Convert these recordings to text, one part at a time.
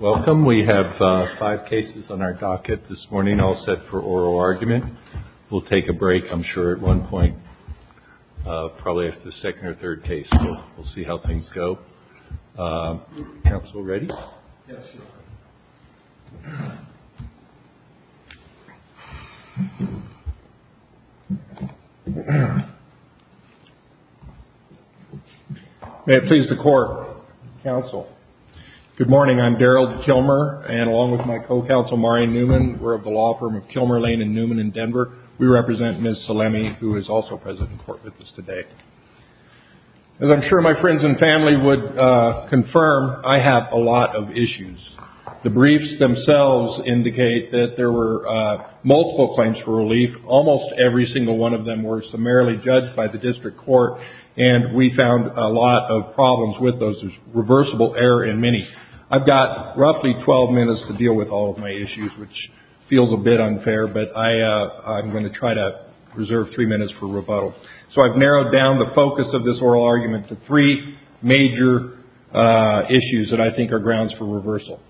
Welcome. We have five cases on our docket this morning, all set for oral argument. We'll take a break, I'm sure, at one point, probably after the second or third case. We'll see how things go. Council ready? Yes, Your Honor. May it please the court, counsel. Good morning, I'm Darrell Kilmer, and along with my co-counsel, Maureen Newman, we're of the law firm of Kilmer, Lane & Newman in Denver. We represent Ms. Salemi, who is also present in court with us today. As I'm sure my friends and family would confirm, I have a lot of issues. The briefs themselves indicate that there were multiple claims for relief. Almost every single one of them were summarily judged by the district court, and we found a lot of problems with those. There's reversible error in many. I've got roughly 12 minutes to deal with all of my issues, which feels a bit unfair, but I'm going to try to reserve three minutes for rebuttal. So I've narrowed down the focus of this oral argument to three major issues that I think are grounds for reversal.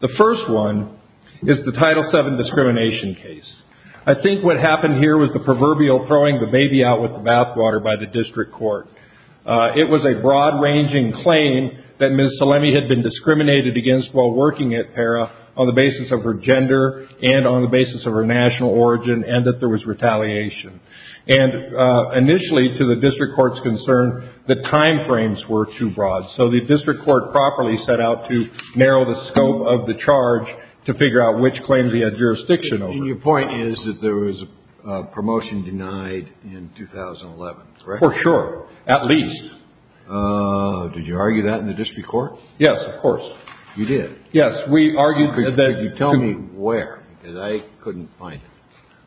The first one is the Title VII discrimination case. I think what happened here was the proverbial throwing the baby out with the bathwater by the district court. It was a broad-ranging claim that Ms. Salemi had been discriminated against while working at PARA on the basis of her gender and on the basis of her national origin and that there was retaliation. Initially, to the district court's concern, the time frames were too broad, so the district court properly set out to narrow the scope of the charge to figure out which claims he had jurisdiction over. Your point is that there was a promotion denied in 2011, correct? For sure. At least. Did you argue that in the district court? Yes, of course. You did? Yes, we argued that... Tell me where, because I couldn't find it.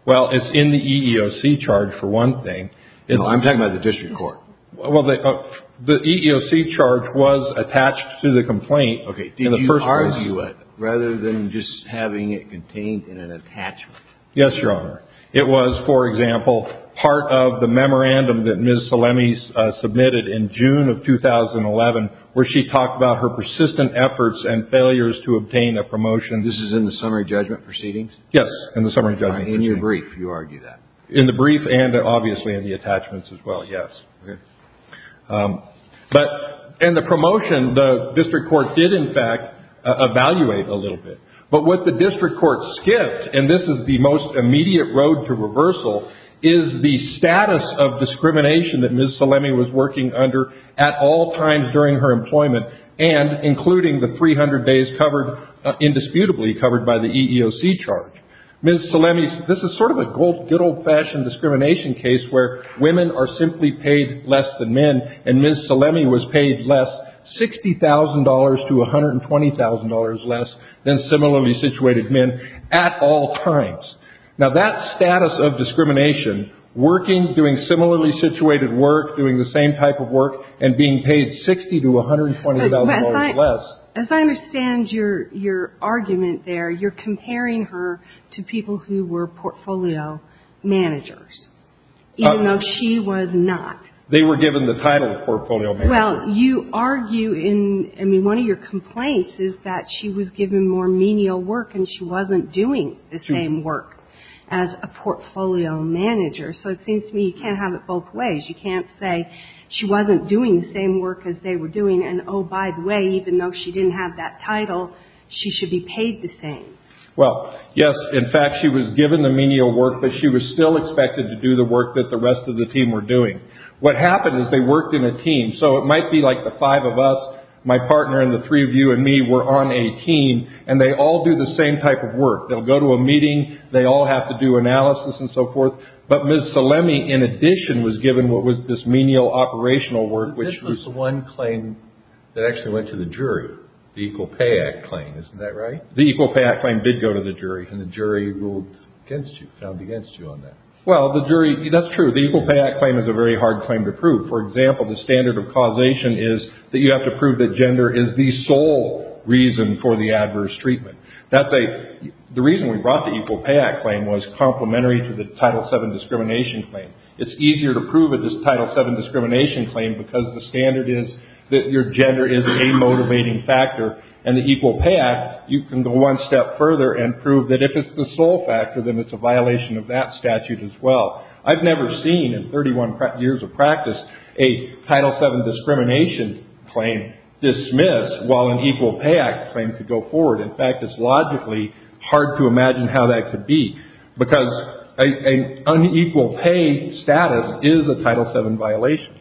Well, it's in the EEOC charge, for one thing. No, I'm talking about the district court. Well, the EEOC charge was attached to the complaint in the first place. Did you argue it, rather than just having it contained in an attachment? Yes, Your Honor. It was, for example, part of the memorandum that Ms. Salemi submitted in June of 2011, where she talked about her persistent efforts and failures to obtain a promotion. This is in the summary judgment proceedings? Yes, in the summary judgment. In your brief, you argue that? In the brief and, obviously, in the attachments as well, yes. Okay. But in the promotion, the district court did, in fact, evaluate a little bit. But what the district court skipped, and this is the most immediate road to reversal, is the status of discrimination that Ms. Salemi was working under at all times during her employment, and including the 300 days indisputably covered by the EEOC charge. This is sort of a good old-fashioned discrimination case where women are simply paid less than men, and Ms. Salemi was paid less, $60,000 to $120,000 less, than similarly situated men at all times. Now, that status of discrimination, working, doing similarly situated work, doing the same type of work, and being paid $60,000 to $120,000 less. As I understand your argument there, you're comparing her to people who were portfolio managers, even though she was not. They were given the title of portfolio manager. Well, you argue in, I mean, one of your complaints is that she was given more menial work, and she wasn't doing the same work as a portfolio manager. So it seems to me you can't have it both ways. You can't say she wasn't doing the same work as they were doing, and, oh, by the way, even though she didn't have that title, she should be paid the same. Well, yes, in fact, she was given the menial work, but she was still expected to do the work that the rest of the team were doing. What happened is they worked in a team. So it might be like the five of us, my partner and the three of you and me were on a team, and they all do the same type of work. They'll go to a meeting. They all have to do analysis and so forth. But Ms. Salemi, in addition, was given what was this menial operational work, which was— But this was the one claim that actually went to the jury, the Equal Pay Act claim. Isn't that right? The Equal Pay Act claim did go to the jury. And the jury ruled against you, found against you on that. Well, the jury—that's true. But the Equal Pay Act claim is a very hard claim to prove. For example, the standard of causation is that you have to prove that gender is the sole reason for the adverse treatment. That's a—the reason we brought the Equal Pay Act claim was complementary to the Title VII discrimination claim. It's easier to prove a Title VII discrimination claim because the standard is that your gender is a motivating factor. And the Equal Pay Act, you can go one step further and prove that if it's the sole factor, then it's a violation of that statute as well. I've never seen in 31 years of practice a Title VII discrimination claim dismissed while an Equal Pay Act claim could go forward. In fact, it's logically hard to imagine how that could be because an unequal pay status is a Title VII violation.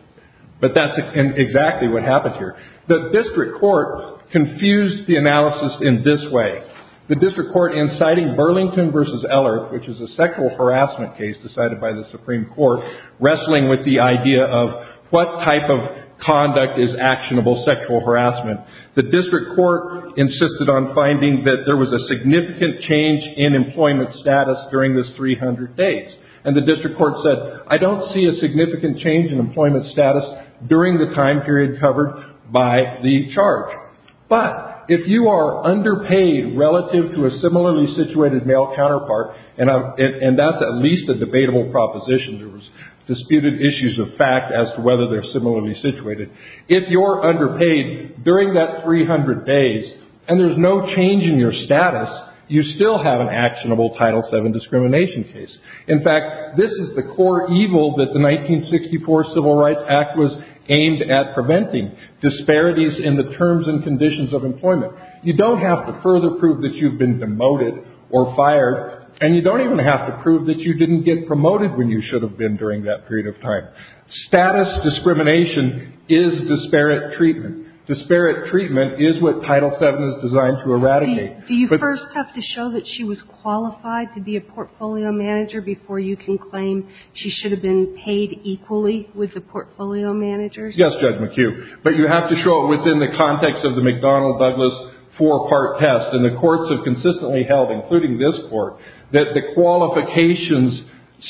But that's exactly what happens here. The district court confused the analysis in this way. The district court, in citing Burlington v. Ellerth, which is a sexual harassment case decided by the Supreme Court, wrestling with the idea of what type of conduct is actionable sexual harassment, the district court insisted on finding that there was a significant change in employment status during this 300 days. And the district court said, I don't see a significant change in employment status during the time period covered by the charge. But if you are underpaid relative to a similarly situated male counterpart, and that's at least a debatable proposition. There was disputed issues of fact as to whether they're similarly situated. If you're underpaid during that 300 days and there's no change in your status, you still have an actionable Title VII discrimination case. In fact, this is the core evil that the 1964 Civil Rights Act was aimed at preventing, disparities in the terms and conditions of employment. You don't have to further prove that you've been demoted or fired, and you don't even have to prove that you didn't get promoted when you should have been during that period of time. Status discrimination is disparate treatment. Disparate treatment is what Title VII is designed to eradicate. Do you first have to show that she was qualified to be a portfolio manager before you can claim she should have been paid equally with the portfolio managers? Yes, Judge McHugh. But you have to show it within the context of the McDonnell-Douglas four-part test. And the courts have consistently held, including this court, that the qualifications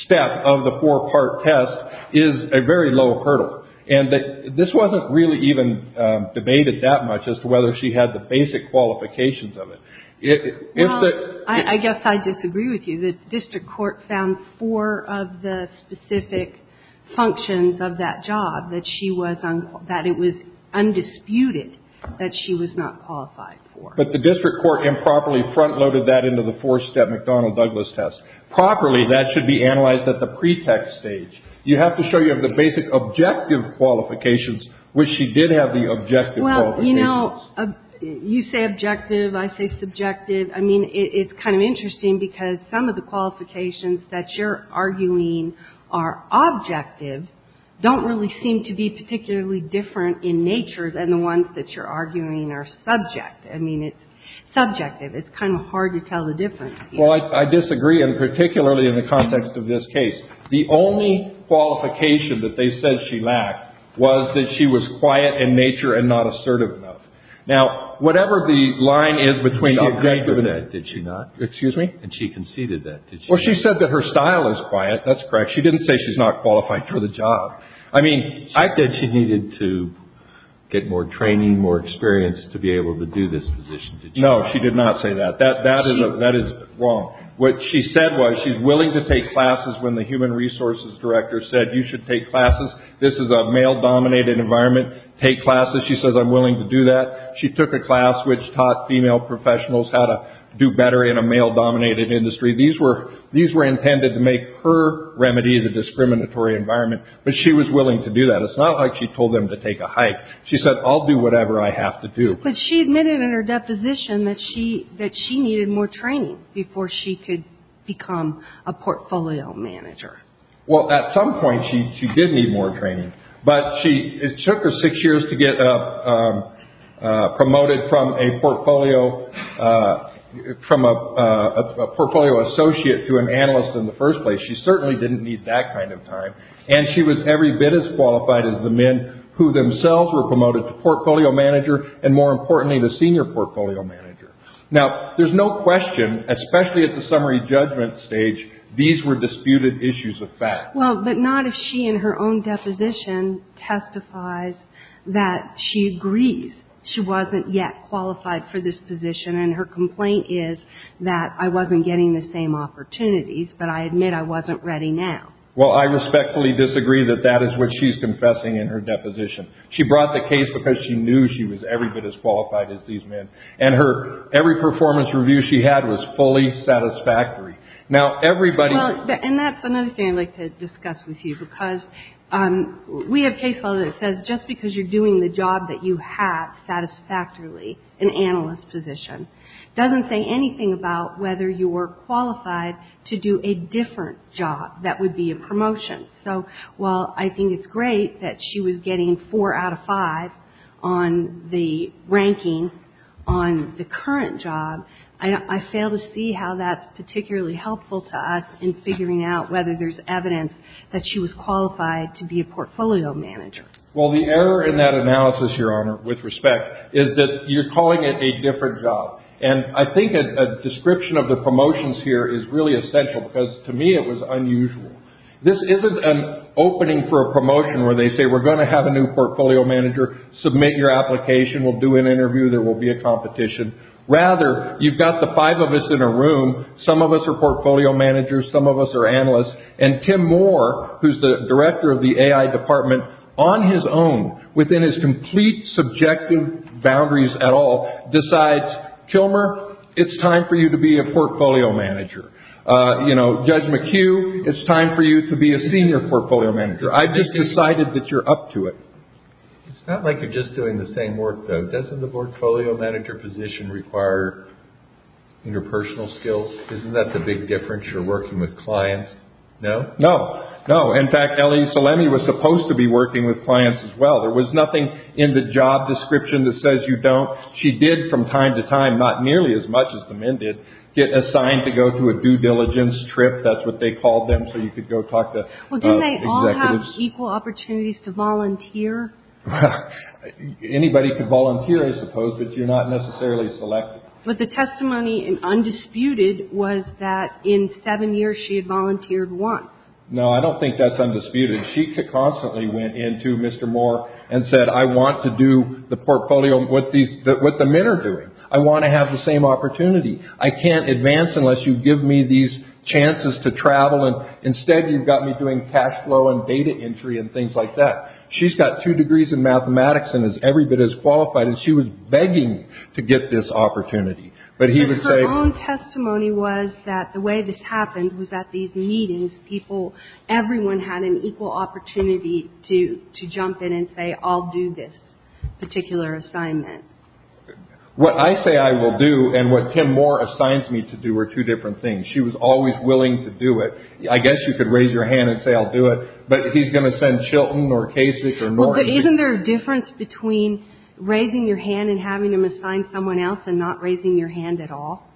step of the four-part test is a very low hurdle. And this wasn't really even debated that much as to whether she had the basic qualifications of it. Well, I guess I disagree with you. The district court found four of the specific functions of that job that it was undisputed that she was not qualified for. But the district court improperly front-loaded that into the four-step McDonnell-Douglas test. Properly, that should be analyzed at the pretext stage. You have to show you have the basic objective qualifications, which she did have the objective qualifications. Well, you know, you say objective, I say subjective. I mean, it's kind of interesting because some of the qualifications that you're arguing are objective don't really seem to be particularly different in nature than the ones that you're arguing are subject. I mean, it's subjective. It's kind of hard to tell the difference. Well, I disagree, and particularly in the context of this case. The only qualification that they said she lacked was that she was quiet in nature and not assertive enough. Now, whatever the line is between the objective and that, did she not? Excuse me? And she conceded that, did she not? Well, she said that her style is quiet. That's correct. She didn't say she's not qualified for the job. I mean, I said she needed to get more training, more experience to be able to do this position. No, she did not say that. That is wrong. What she said was she's willing to take classes when the human resources director said you should take classes. This is a male-dominated environment. Take classes. She says, I'm willing to do that. She took a class which taught female professionals how to do better in a male-dominated industry. These were intended to make her remedy the discriminatory environment, but she was willing to do that. It's not like she told them to take a hike. She said, I'll do whatever I have to do. But she admitted in her deposition that she needed more training before she could become a portfolio manager. Well, at some point, she did need more training. But it took her six years to get promoted from a portfolio associate to an analyst in the first place. She certainly didn't need that kind of time. And she was every bit as qualified as the men who themselves were promoted to portfolio manager and, more importantly, to senior portfolio manager. Now, there's no question, especially at the summary judgment stage, these were disputed issues of fact. Well, but not if she, in her own deposition, testifies that she agrees she wasn't yet qualified for this position. And her complaint is that I wasn't getting the same opportunities, but I admit I wasn't ready now. Well, I respectfully disagree that that is what she's confessing in her deposition. She brought the case because she knew she was every bit as qualified as these men. And every performance review she had was fully satisfactory. Now, everybody... Well, and that's another thing I'd like to discuss with you because we have case law that says just because you're doing the job that you have satisfactorily, an analyst position, doesn't say anything about whether you were qualified to do a different job that would be a promotion. So while I think it's great that she was getting four out of five on the ranking on the current job, I fail to see how that's particularly helpful to us in figuring out whether there's evidence that she was qualified to be a portfolio manager. Well, the error in that analysis, Your Honor, with respect, is that you're calling it a different job. And I think a description of the promotions here is really essential because, to me, it was unusual. This isn't an opening for a promotion where they say, we're going to have a new portfolio manager. Submit your application. We'll do an interview. There will be a competition. Rather, you've got the five of us in a room. Some of us are portfolio managers. Some of us are analysts. And Tim Moore, who's the director of the AI department, on his own, within his complete subjective boundaries at all, decides, Kilmer, it's time for you to be a portfolio manager. Judge McHugh, it's time for you to be a senior portfolio manager. I've just decided that you're up to it. It's not like you're just doing the same work, though. Doesn't the portfolio manager position require interpersonal skills? Isn't that the big difference? You're working with clients. No, no, no. In fact, Ellie Salemi was supposed to be working with clients as well. There was nothing in the job description that says you don't. She did, from time to time, not nearly as much as the men did, get assigned to go to a due diligence trip. That's what they called them. So you could go talk to executives. Well, didn't they all have equal opportunities to volunteer? Anybody could volunteer, I suppose, but you're not necessarily selected. But the testimony in Undisputed was that in seven years, she had volunteered once. No, I don't think that's Undisputed. She constantly went in to Mr. Moore and said, I want to do the portfolio with the men are doing. I want to have the same opportunity. I can't advance unless you give me these chances to travel. And instead, you've got me doing cash flow and data entry and things like that. She's got two degrees in mathematics and is every bit as qualified. And she was begging to get this opportunity. And her own testimony was that the way this happened was at these meetings, everyone had an equal opportunity to jump in and say, I'll do this particular assignment. What I say I will do and what Tim Moore assigns me to do are two different things. She was always willing to do it. I guess you could raise your hand and say, I'll do it. But he's going to send Chilton or Kasich or Norton. Isn't there a difference between raising your hand and having him assign someone else and not raising your hand at all?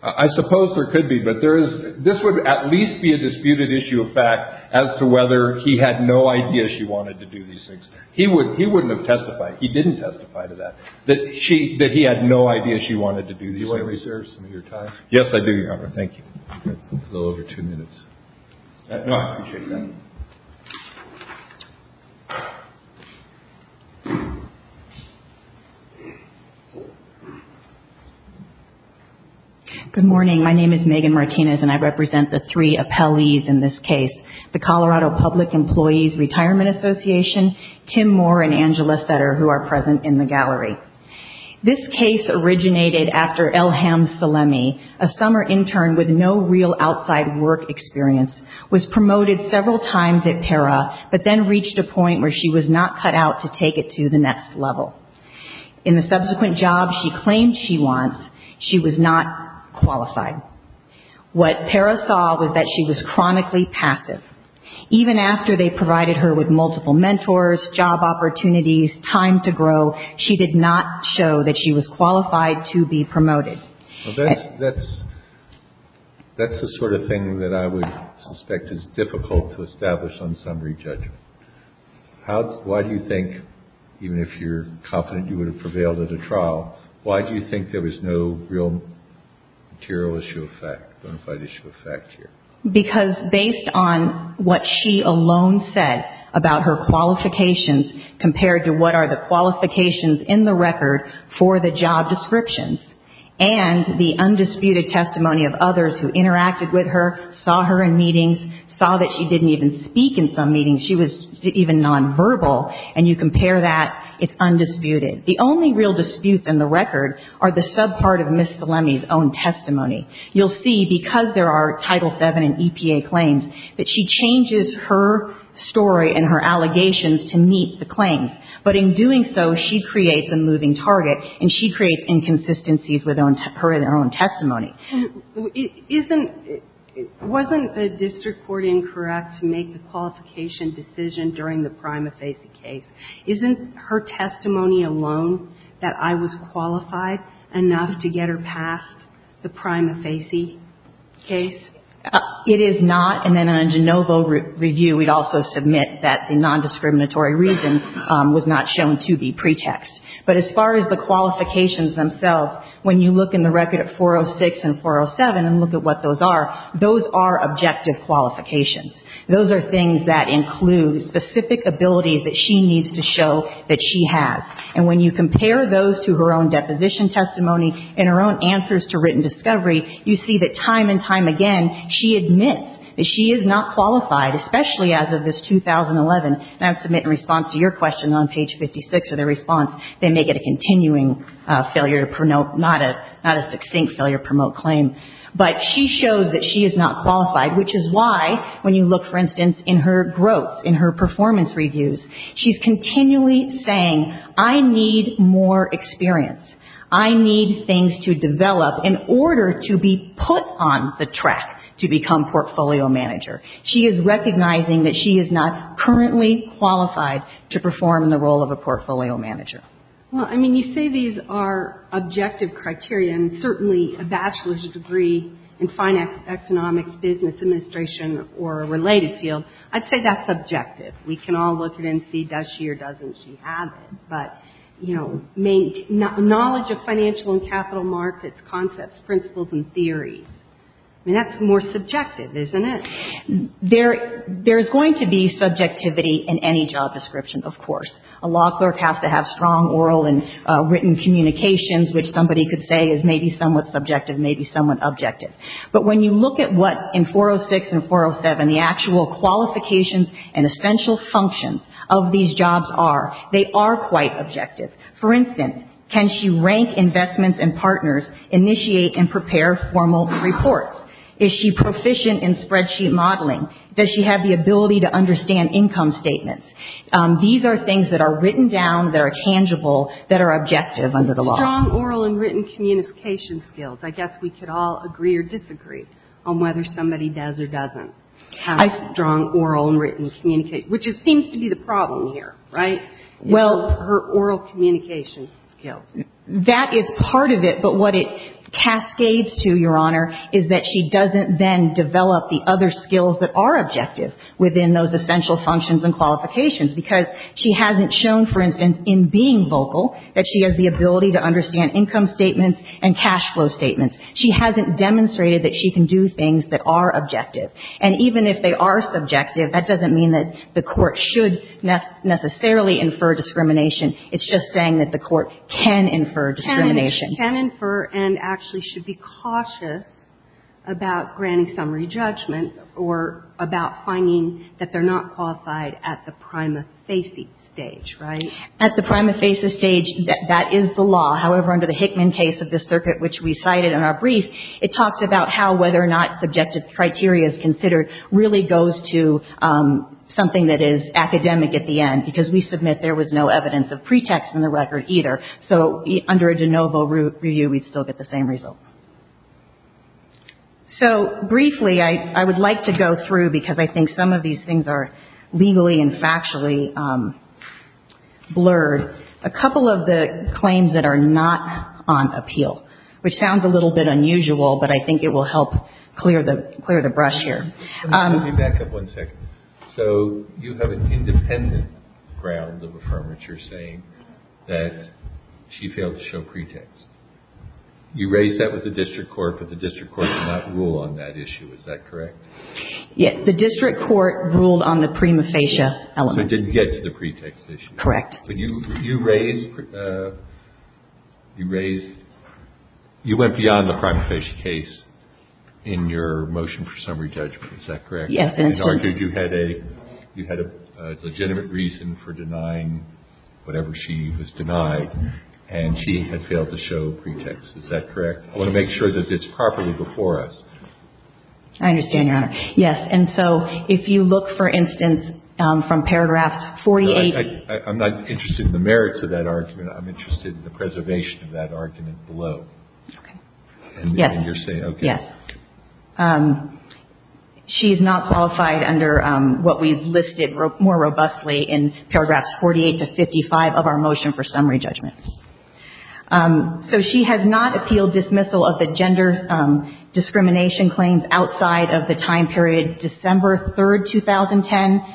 I suppose there could be. But there is this would at least be a disputed issue of fact as to whether he had no idea she wanted to do these things. He would he wouldn't have testified. He didn't testify to that, that she that he had no idea she wanted to do. Yes, I do. Thank you. Good morning. My name is Megan Martinez and I represent the three appellees in this case. The Colorado Public Employees Retirement Association, Tim Moore and Angela Sutter, who are present in the gallery. This case originated after Elham Salemi, a summer intern with no real outside work experience, was promoted several times at PERA, but then reached a point where she was not cut out to take it to the next level. In the subsequent job she claimed she wants, she was not qualified. What PERA saw was that she was chronically passive. Even after they provided her with multiple mentors, job opportunities, time to grow, she did not show that she was qualified to be promoted. That's the sort of thing that I would suspect is difficult to establish on summary judgment. Why do you think, even if you're confident you would have prevailed at a trial, why do you think there was no real material issue of fact, bona fide issue of fact here? Because based on what she alone said about her qualifications compared to what are the qualifications in the record for the job descriptions and the undisputed testimony of others who interacted with her, saw her in meetings, saw that she didn't even speak in some meetings, she was even nonverbal, and you compare that, it's undisputed. The only real disputes in the record are the subpart of Ms. Salemi's own testimony. You'll see, because there are Title VII and EPA claims, that she changes her story and her allegations to meet the claims. But in doing so, she creates a moving target, and she creates inconsistencies with her own testimony. Isn't – wasn't the district court incorrect to make the qualification decision during the prima facie case? Isn't her testimony alone that I was qualified enough to get her past the prima facie case? It is not, and then in a de novo review, we'd also submit that the nondiscriminatory reason was not shown to be pretext. But as far as the qualifications themselves, when you look in the record of 406 and 407 and look at what those are, those are objective qualifications. Those are things that include specific abilities that she needs to show that she has. And when you compare those to her own deposition testimony and her own answers to written discovery, you see that time and time again, she admits that she is not qualified, especially as of this 2011. And I would submit in response to your question on page 56 of the response, they may get a continuing failure to promote – not a succinct failure to promote claim. But she shows that she is not qualified, which is why when you look, for instance, in her growth, in her performance reviews, she's continually saying, I need more experience. I need things to develop in order to be put on the track to become portfolio manager. She is recognizing that she is not currently qualified to perform in the role of a portfolio manager. Well, I mean, you say these are objective criteria, and certainly a bachelor's degree in finance, economics, business, administration, or a related field, I'd say that's subjective. We can all look at it and see does she or doesn't she have it. But, you know, knowledge of financial and capital markets, concepts, principles, and theories. I mean, that's more subjective, isn't it? There is going to be subjectivity in any job description, of course. A law clerk has to have strong oral and written communications, which somebody could say is maybe somewhat subjective, maybe somewhat objective. But when you look at what in 406 and 407, the actual qualifications and essential functions of these jobs are, they are quite objective. For instance, can she rank investments and partners, initiate and prepare formal reports? Is she proficient in spreadsheet modeling? Does she have the ability to understand income statements? These are things that are written down, that are tangible, that are objective under the law. Strong oral and written communication skills. I guess we could all agree or disagree on whether somebody does or doesn't have strong oral and written communication, which seems to be the problem here, right? Well, her oral communication skills. That is part of it, but what it cascades to, Your Honor, is that she doesn't then develop the other skills that are objective within those essential functions and qualifications. Because she hasn't shown, for instance, in being vocal, that she has the ability to understand income statements and cash flow statements. She hasn't demonstrated that she can do things that are objective. And even if they are subjective, that doesn't mean that the court should necessarily infer discrimination. It's just saying that the court can infer discrimination. Can infer and actually should be cautious about granting summary judgment or about finding that they're not qualified at the prima facie stage, right? At the prima facie stage, that is the law. However, under the Hickman case of this circuit, which we cited in our brief, it talks about how whether or not subjective criteria is considered really goes to something that is academic at the end, because we submit there was no evidence of pretext in the record either. So under a de novo review, we'd still get the same result. So briefly, I would like to go through, because I think some of these things are legally and factually blurred, a couple of the claims that are not on appeal, which sounds a little bit unusual, but I think it will help clear the brush here. Let me back up one second. So you have an independent ground of affirmation saying that she failed to show pretext. You raised that with the district court, but the district court did not rule on that issue. Is that correct? Yes. The district court ruled on the prima facie element. So it didn't get to the pretext issue. Correct. But you raised, you raised, you went beyond the prima facie case in your motion for summary judgment. Is that correct? Yes. You had a legitimate reason for denying whatever she was denied, and she had failed to show pretext. Is that correct? I want to make sure that it's properly before us. I understand, Your Honor. Yes. And so if you look, for instance, from paragraphs 48. I'm not interested in the merits of that argument. I'm interested in the preservation of that argument below. Okay. Yes. And you're saying, okay. Yes. She is not qualified under what we've listed more robustly in paragraphs 48 to 55 of our motion for summary judgment. So she has not appealed dismissal of the gender discrimination claims outside of the time period December 3, 2010,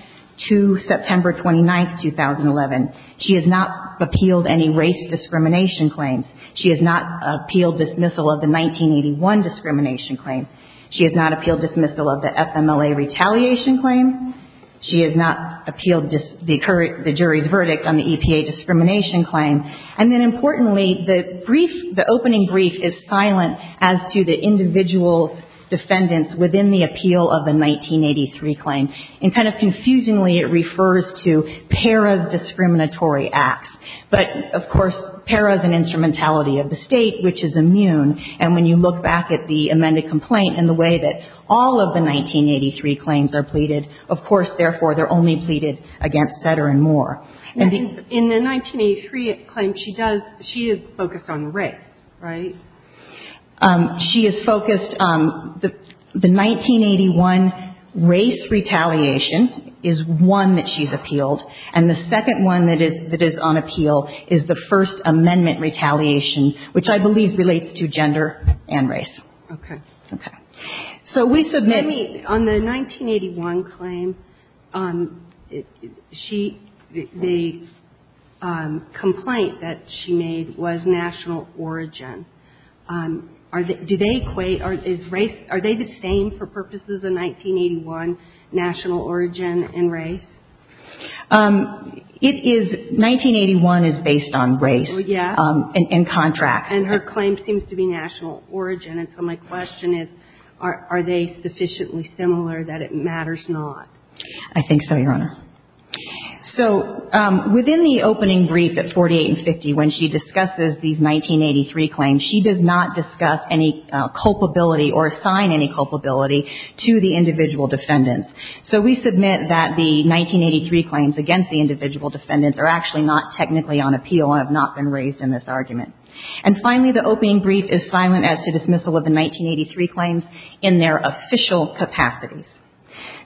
to September 29, 2011. She has not appealed any race discrimination claims. She has not appealed dismissal of the 1981 discrimination claim. She has not appealed dismissal of the FMLA retaliation claim. She has not appealed the jury's verdict on the EPA discrimination claim. And then, importantly, the brief, the opening brief is silent as to the individual's defendants within the appeal of the 1983 claim. And kind of confusingly, it refers to PARA's discriminatory acts. But, of course, PARA is an instrumentality of the State, which is immune. And when you look back at the amended complaint and the way that all of the 1983 claims are pleaded, of course, therefore, they're only pleaded against Setter and Moore. In the 1983 claim, she does, she is focused on race, right? She is focused, the 1981 race retaliation is one that she's appealed. And the second one that is on appeal is the First Amendment retaliation, which I believe relates to gender and race. Okay. Okay. So we submit. Let me, on the 1981 claim, she, the complaint that she made was national origin. Are they, do they equate, is race, are they the same for purposes of 1981 national origin and race? It is, 1981 is based on race. Well, yeah. And contracts. And her claim seems to be national origin. And so my question is, are they sufficiently similar that it matters not? I think so, Your Honor. So within the opening brief at 48 and 50, when she discusses these 1983 claims, she does not discuss any culpability or assign any culpability to the individual defendants. So we submit that the 1983 claims against the individual defendants are actually not technically on appeal and have not been raised in this argument. And finally, the opening brief is silent as to dismissal of the 1983 claims in their official capacities.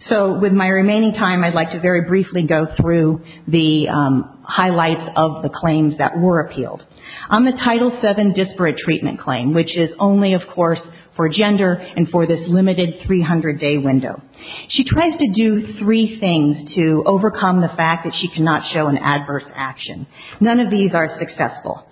So with my remaining time, I'd like to very briefly go through the highlights of the claims that were appealed. On the Title VII disparate treatment claim, which is only, of course, for gender and for this limited 300-day window, she tries to do three things to overcome the fact that she cannot show an adverse action. None of these are successful.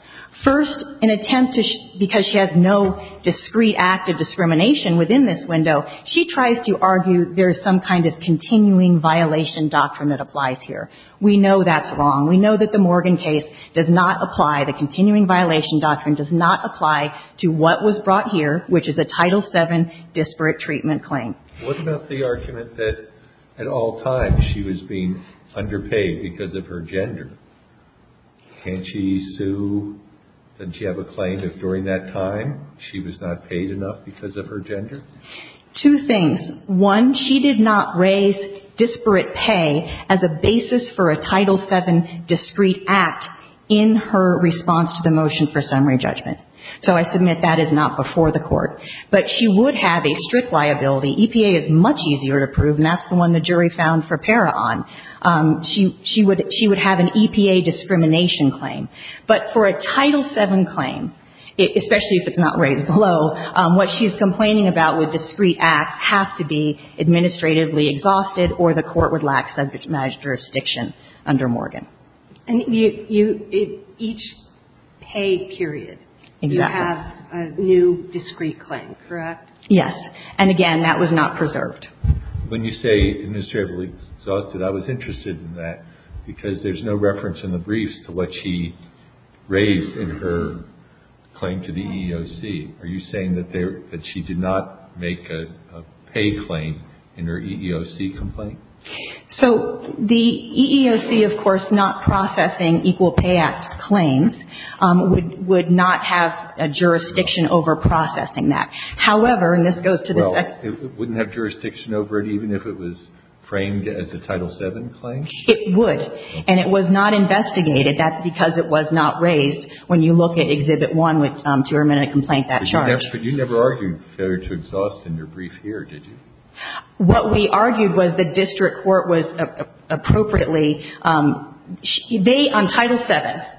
First, an attempt to – because she has no discrete act of discrimination within this window, she tries to argue there is some kind of continuing violation doctrine that applies here. We know that's wrong. We know that the Morgan case does not apply. The continuing violation doctrine does not apply to what was brought here, which is a Title VII disparate treatment claim. What about the argument that at all times she was being underpaid because of her gender? Can't she sue? Doesn't she have a claim that during that time she was not paid enough because of her gender? Two things. One, she did not raise disparate pay as a basis for a Title VII discrete act in her response to the motion for summary judgment. So I submit that is not before the Court. But she would have a strict liability. EPA is much easier to prove, and that's the one the jury found for PARA on. She would have an EPA discrimination claim. But for a Title VII claim, especially if it's not raised below, what she's complaining about with discrete acts have to be administratively exhausted or the Court would lack jurisdiction under Morgan. And each pay period, you have a new discrete claim, correct? Yes. And again, that was not preserved. When you say administratively exhausted, I was interested in that because there's no reference in the briefs to what she raised in her claim to the EEOC. Are you saying that she did not make a pay claim in her EEOC complaint? So the EEOC, of course, not processing equal pay act claims, would not have a jurisdiction over processing that. However, and this goes to the second question. Well, it wouldn't have jurisdiction over it even if it was framed as a Title VII claim? It would. And it was not investigated. That's because it was not raised when you look at Exhibit 1 with term and a complaint that charge. But you never argued failure to exhaust in your brief here, did you? What we argued was the district court was appropriately, they, on Title VII,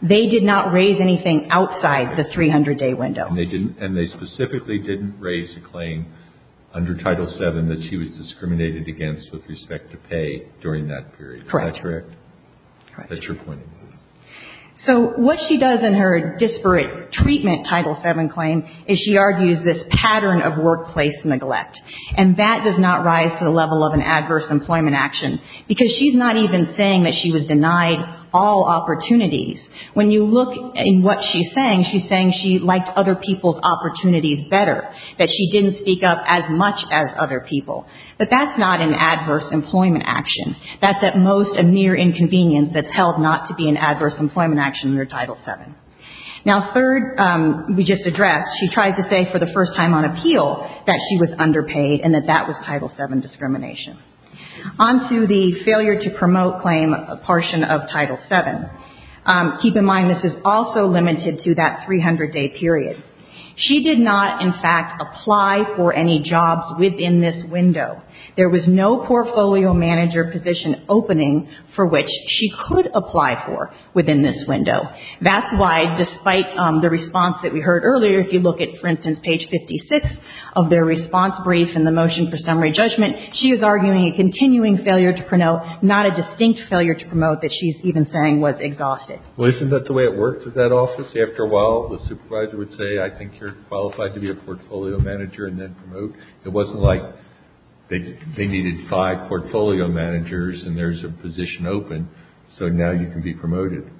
they did not raise anything outside the 300-day window. And they specifically didn't raise a claim under Title VII that she was discriminated against with respect to pay during that period. Correct. Is that correct? Correct. That's your point. So what she does in her disparate treatment Title VII claim is she argues this pattern of workplace neglect. And that does not rise to the level of an adverse employment action. Because she's not even saying that she was denied all opportunities. When you look at what she's saying, she's saying she liked other people's opportunities better. That she didn't speak up as much as other people. But that's not an adverse employment action. That's at most a mere inconvenience that's held not to be an adverse employment action under Title VII. Now, third, we just addressed, she tried to say for the first time on appeal that she was underpaid and that that was Title VII discrimination. On to the failure to promote claim portion of Title VII. Keep in mind, this is also limited to that 300-day period. She did not, in fact, apply for any jobs within this window. There was no portfolio manager position opening for which she could apply for within this window. That's why, despite the response that we heard earlier, if you look at, for instance, page 56 of their response brief and the motion for summary judgment, she is arguing a continuing failure to promote, not a distinct failure to promote that she's even saying was exhausted. Well, isn't that the way it works at that office? After a while, the supervisor would say, I think you're qualified to be a portfolio manager and then promote. It wasn't like they needed five portfolio managers and there's a position open, so now you can be promoted.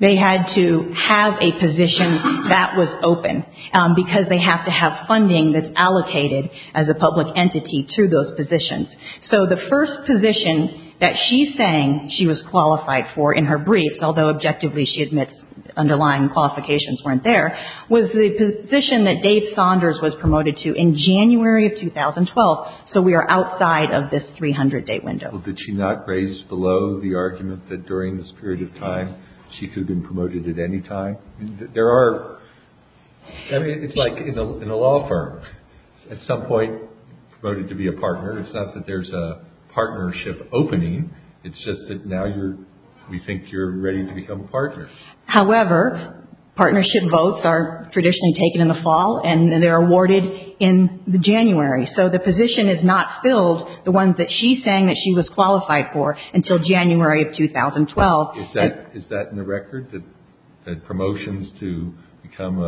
They had to have a position that was open because they have to have funding that's allocated as a public entity to those positions. So the first position that she's saying she was qualified for in her briefs, underlying qualifications weren't there, was the position that Dave Saunders was promoted to in January of 2012. So we are outside of this 300-day window. Well, did she not raise below the argument that during this period of time she could have been promoted at any time? There are, I mean, it's like in a law firm. At some point, promoted to be a partner. It's not that there's a partnership opening. It's just that now you're, we think you're ready to become a partner. However, partnership votes are traditionally taken in the fall and they're awarded in January. So the position is not filled, the ones that she's saying that she was qualified for, until January of 2012. Is that in the record? That promotions to become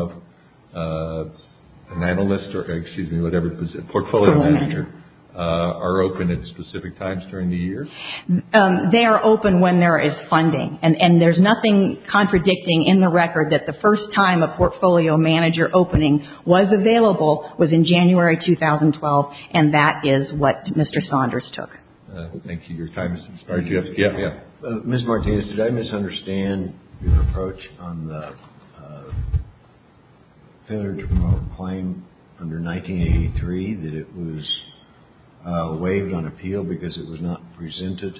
an analyst or, excuse me, whatever it is, a portfolio manager are open at specific times during the year? They are open when there is funding. And there's nothing contradicting in the record that the first time a portfolio manager opening was available was in January 2012. And that is what Mr. Saunders took. Thank you. Your time has expired. Ms. Martinez, did I misunderstand your approach on the failure to promote claim under 1983, that it was waived on appeal because it was not presented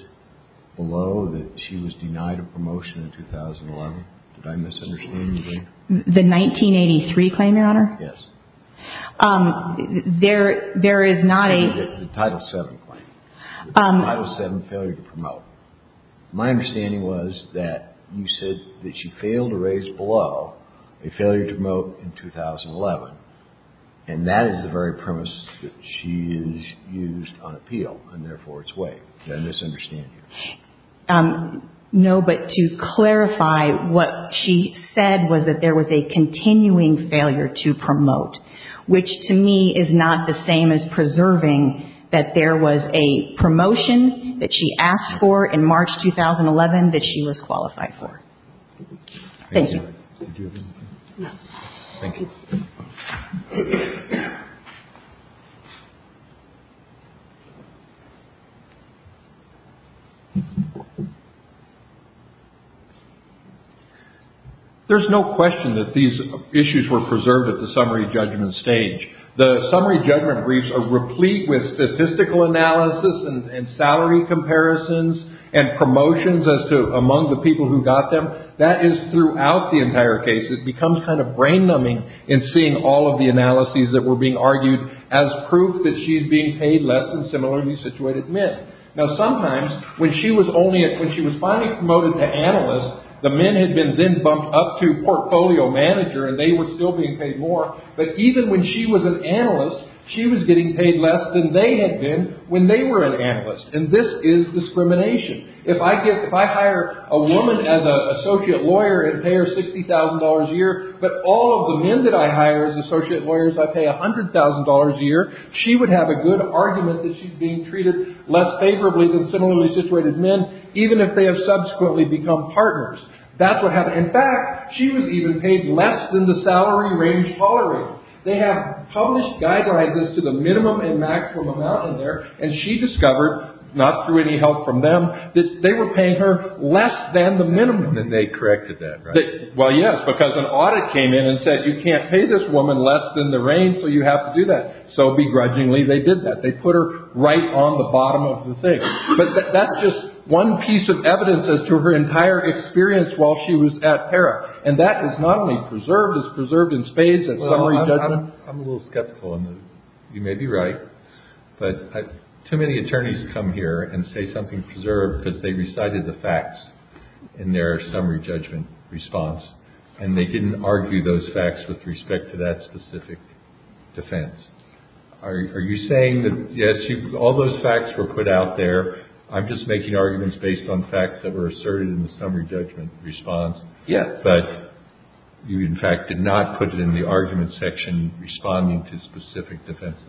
below that she was denied a promotion in 2011? Did I misunderstand you there? The 1983 claim, Your Honor? Yes. There is not a – The Title VII claim. The Title VII failure to promote. My understanding was that you said that she failed to raise below a failure to promote in 2011, and that is the very premise that she has used on appeal, and therefore it's waived. Did I misunderstand you? No, but to clarify, what she said was that there was a continuing failure to promote, which to me is not the same as preserving that there was a promotion that she asked for in March 2011 that she was qualified for. Thank you. Thank you. Thank you. There's no question that these issues were preserved at the summary judgment stage. The summary judgment briefs are replete with statistical analysis and salary comparisons and promotions as to among the people who got them. However, that is throughout the entire case. It becomes kind of brain-numbing in seeing all of the analyses that were being argued as proof that she's being paid less than similarly situated men. Now, sometimes when she was only – when she was finally promoted to analyst, the men had been then bumped up to portfolio manager and they were still being paid more, but even when she was an analyst, she was getting paid less than they had been when they were an analyst, and this is discrimination. If I give – if I hire a woman as an associate lawyer and pay her $60,000 a year, but all of the men that I hire as associate lawyers I pay $100,000 a year, she would have a good argument that she's being treated less favorably than similarly situated men, even if they have subsequently become partners. That's what happened. In fact, she was even paid less than the salary range tolerated. They have published guidelines as to the minimum and maximum amount in there, and she discovered, not through any help from them, that they were paying her less than the minimum. And they corrected that, right? Well, yes, because an audit came in and said, you can't pay this woman less than the range, so you have to do that. So begrudgingly they did that. They put her right on the bottom of the thing. But that's just one piece of evidence as to her entire experience while she was at PERA, and that is not only preserved, it's preserved in spades. I'm a little skeptical. You may be right, but too many attorneys come here and say something's preserved because they recited the facts in their summary judgment response, and they didn't argue those facts with respect to that specific defense. Are you saying that, yes, all those facts were put out there, I'm just making arguments based on facts that were asserted in the summary judgment response, but you, in fact, did not put it in the argument section responding to specific defenses?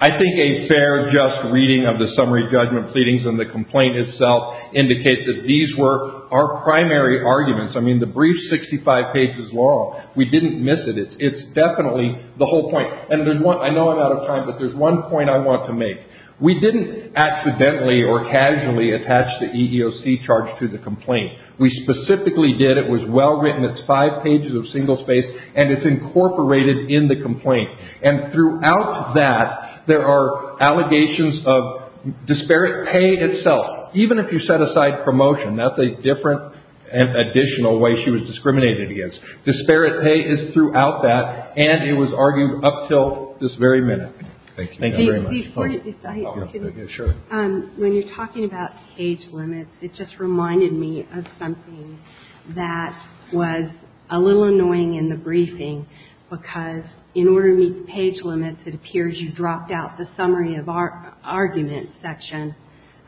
I think a fair, just reading of the summary judgment pleadings and the complaint itself indicates that these were our primary arguments. I mean, the brief 65 pages long, we didn't miss it. It's definitely the whole point. And I know I'm out of time, but there's one point I want to make. We didn't accidentally or casually attach the EEOC charge to the complaint. We specifically did. It was well written. It's five pages of single space, and it's incorporated in the complaint. And throughout that, there are allegations of disparate pay itself. Even if you set aside promotion, that's a different additional way she was discriminated against. Disparate pay is throughout that, and it was argued up until this very minute. Thank you very much. When you're talking about page limits, it just reminded me of something that was a little annoying in the briefing, because in order to meet the page limits, it appears you dropped out the summary of argument section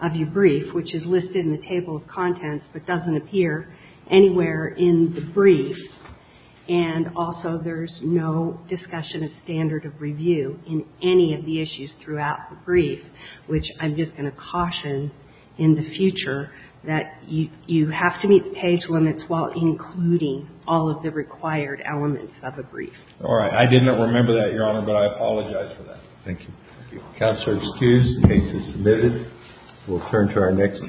of your brief, which is listed in the table of contents, but doesn't appear anywhere in the brief. And also, there's no discussion of standard of review in any of the issues throughout the brief, which I'm just going to caution in the future that you have to meet the page limits while including all of the required elements of a brief. All right. I did not remember that, Your Honor, but I apologize for that. Thank you. Counselor, excused. Case is submitted. We'll turn to our next case. Oh, sorry.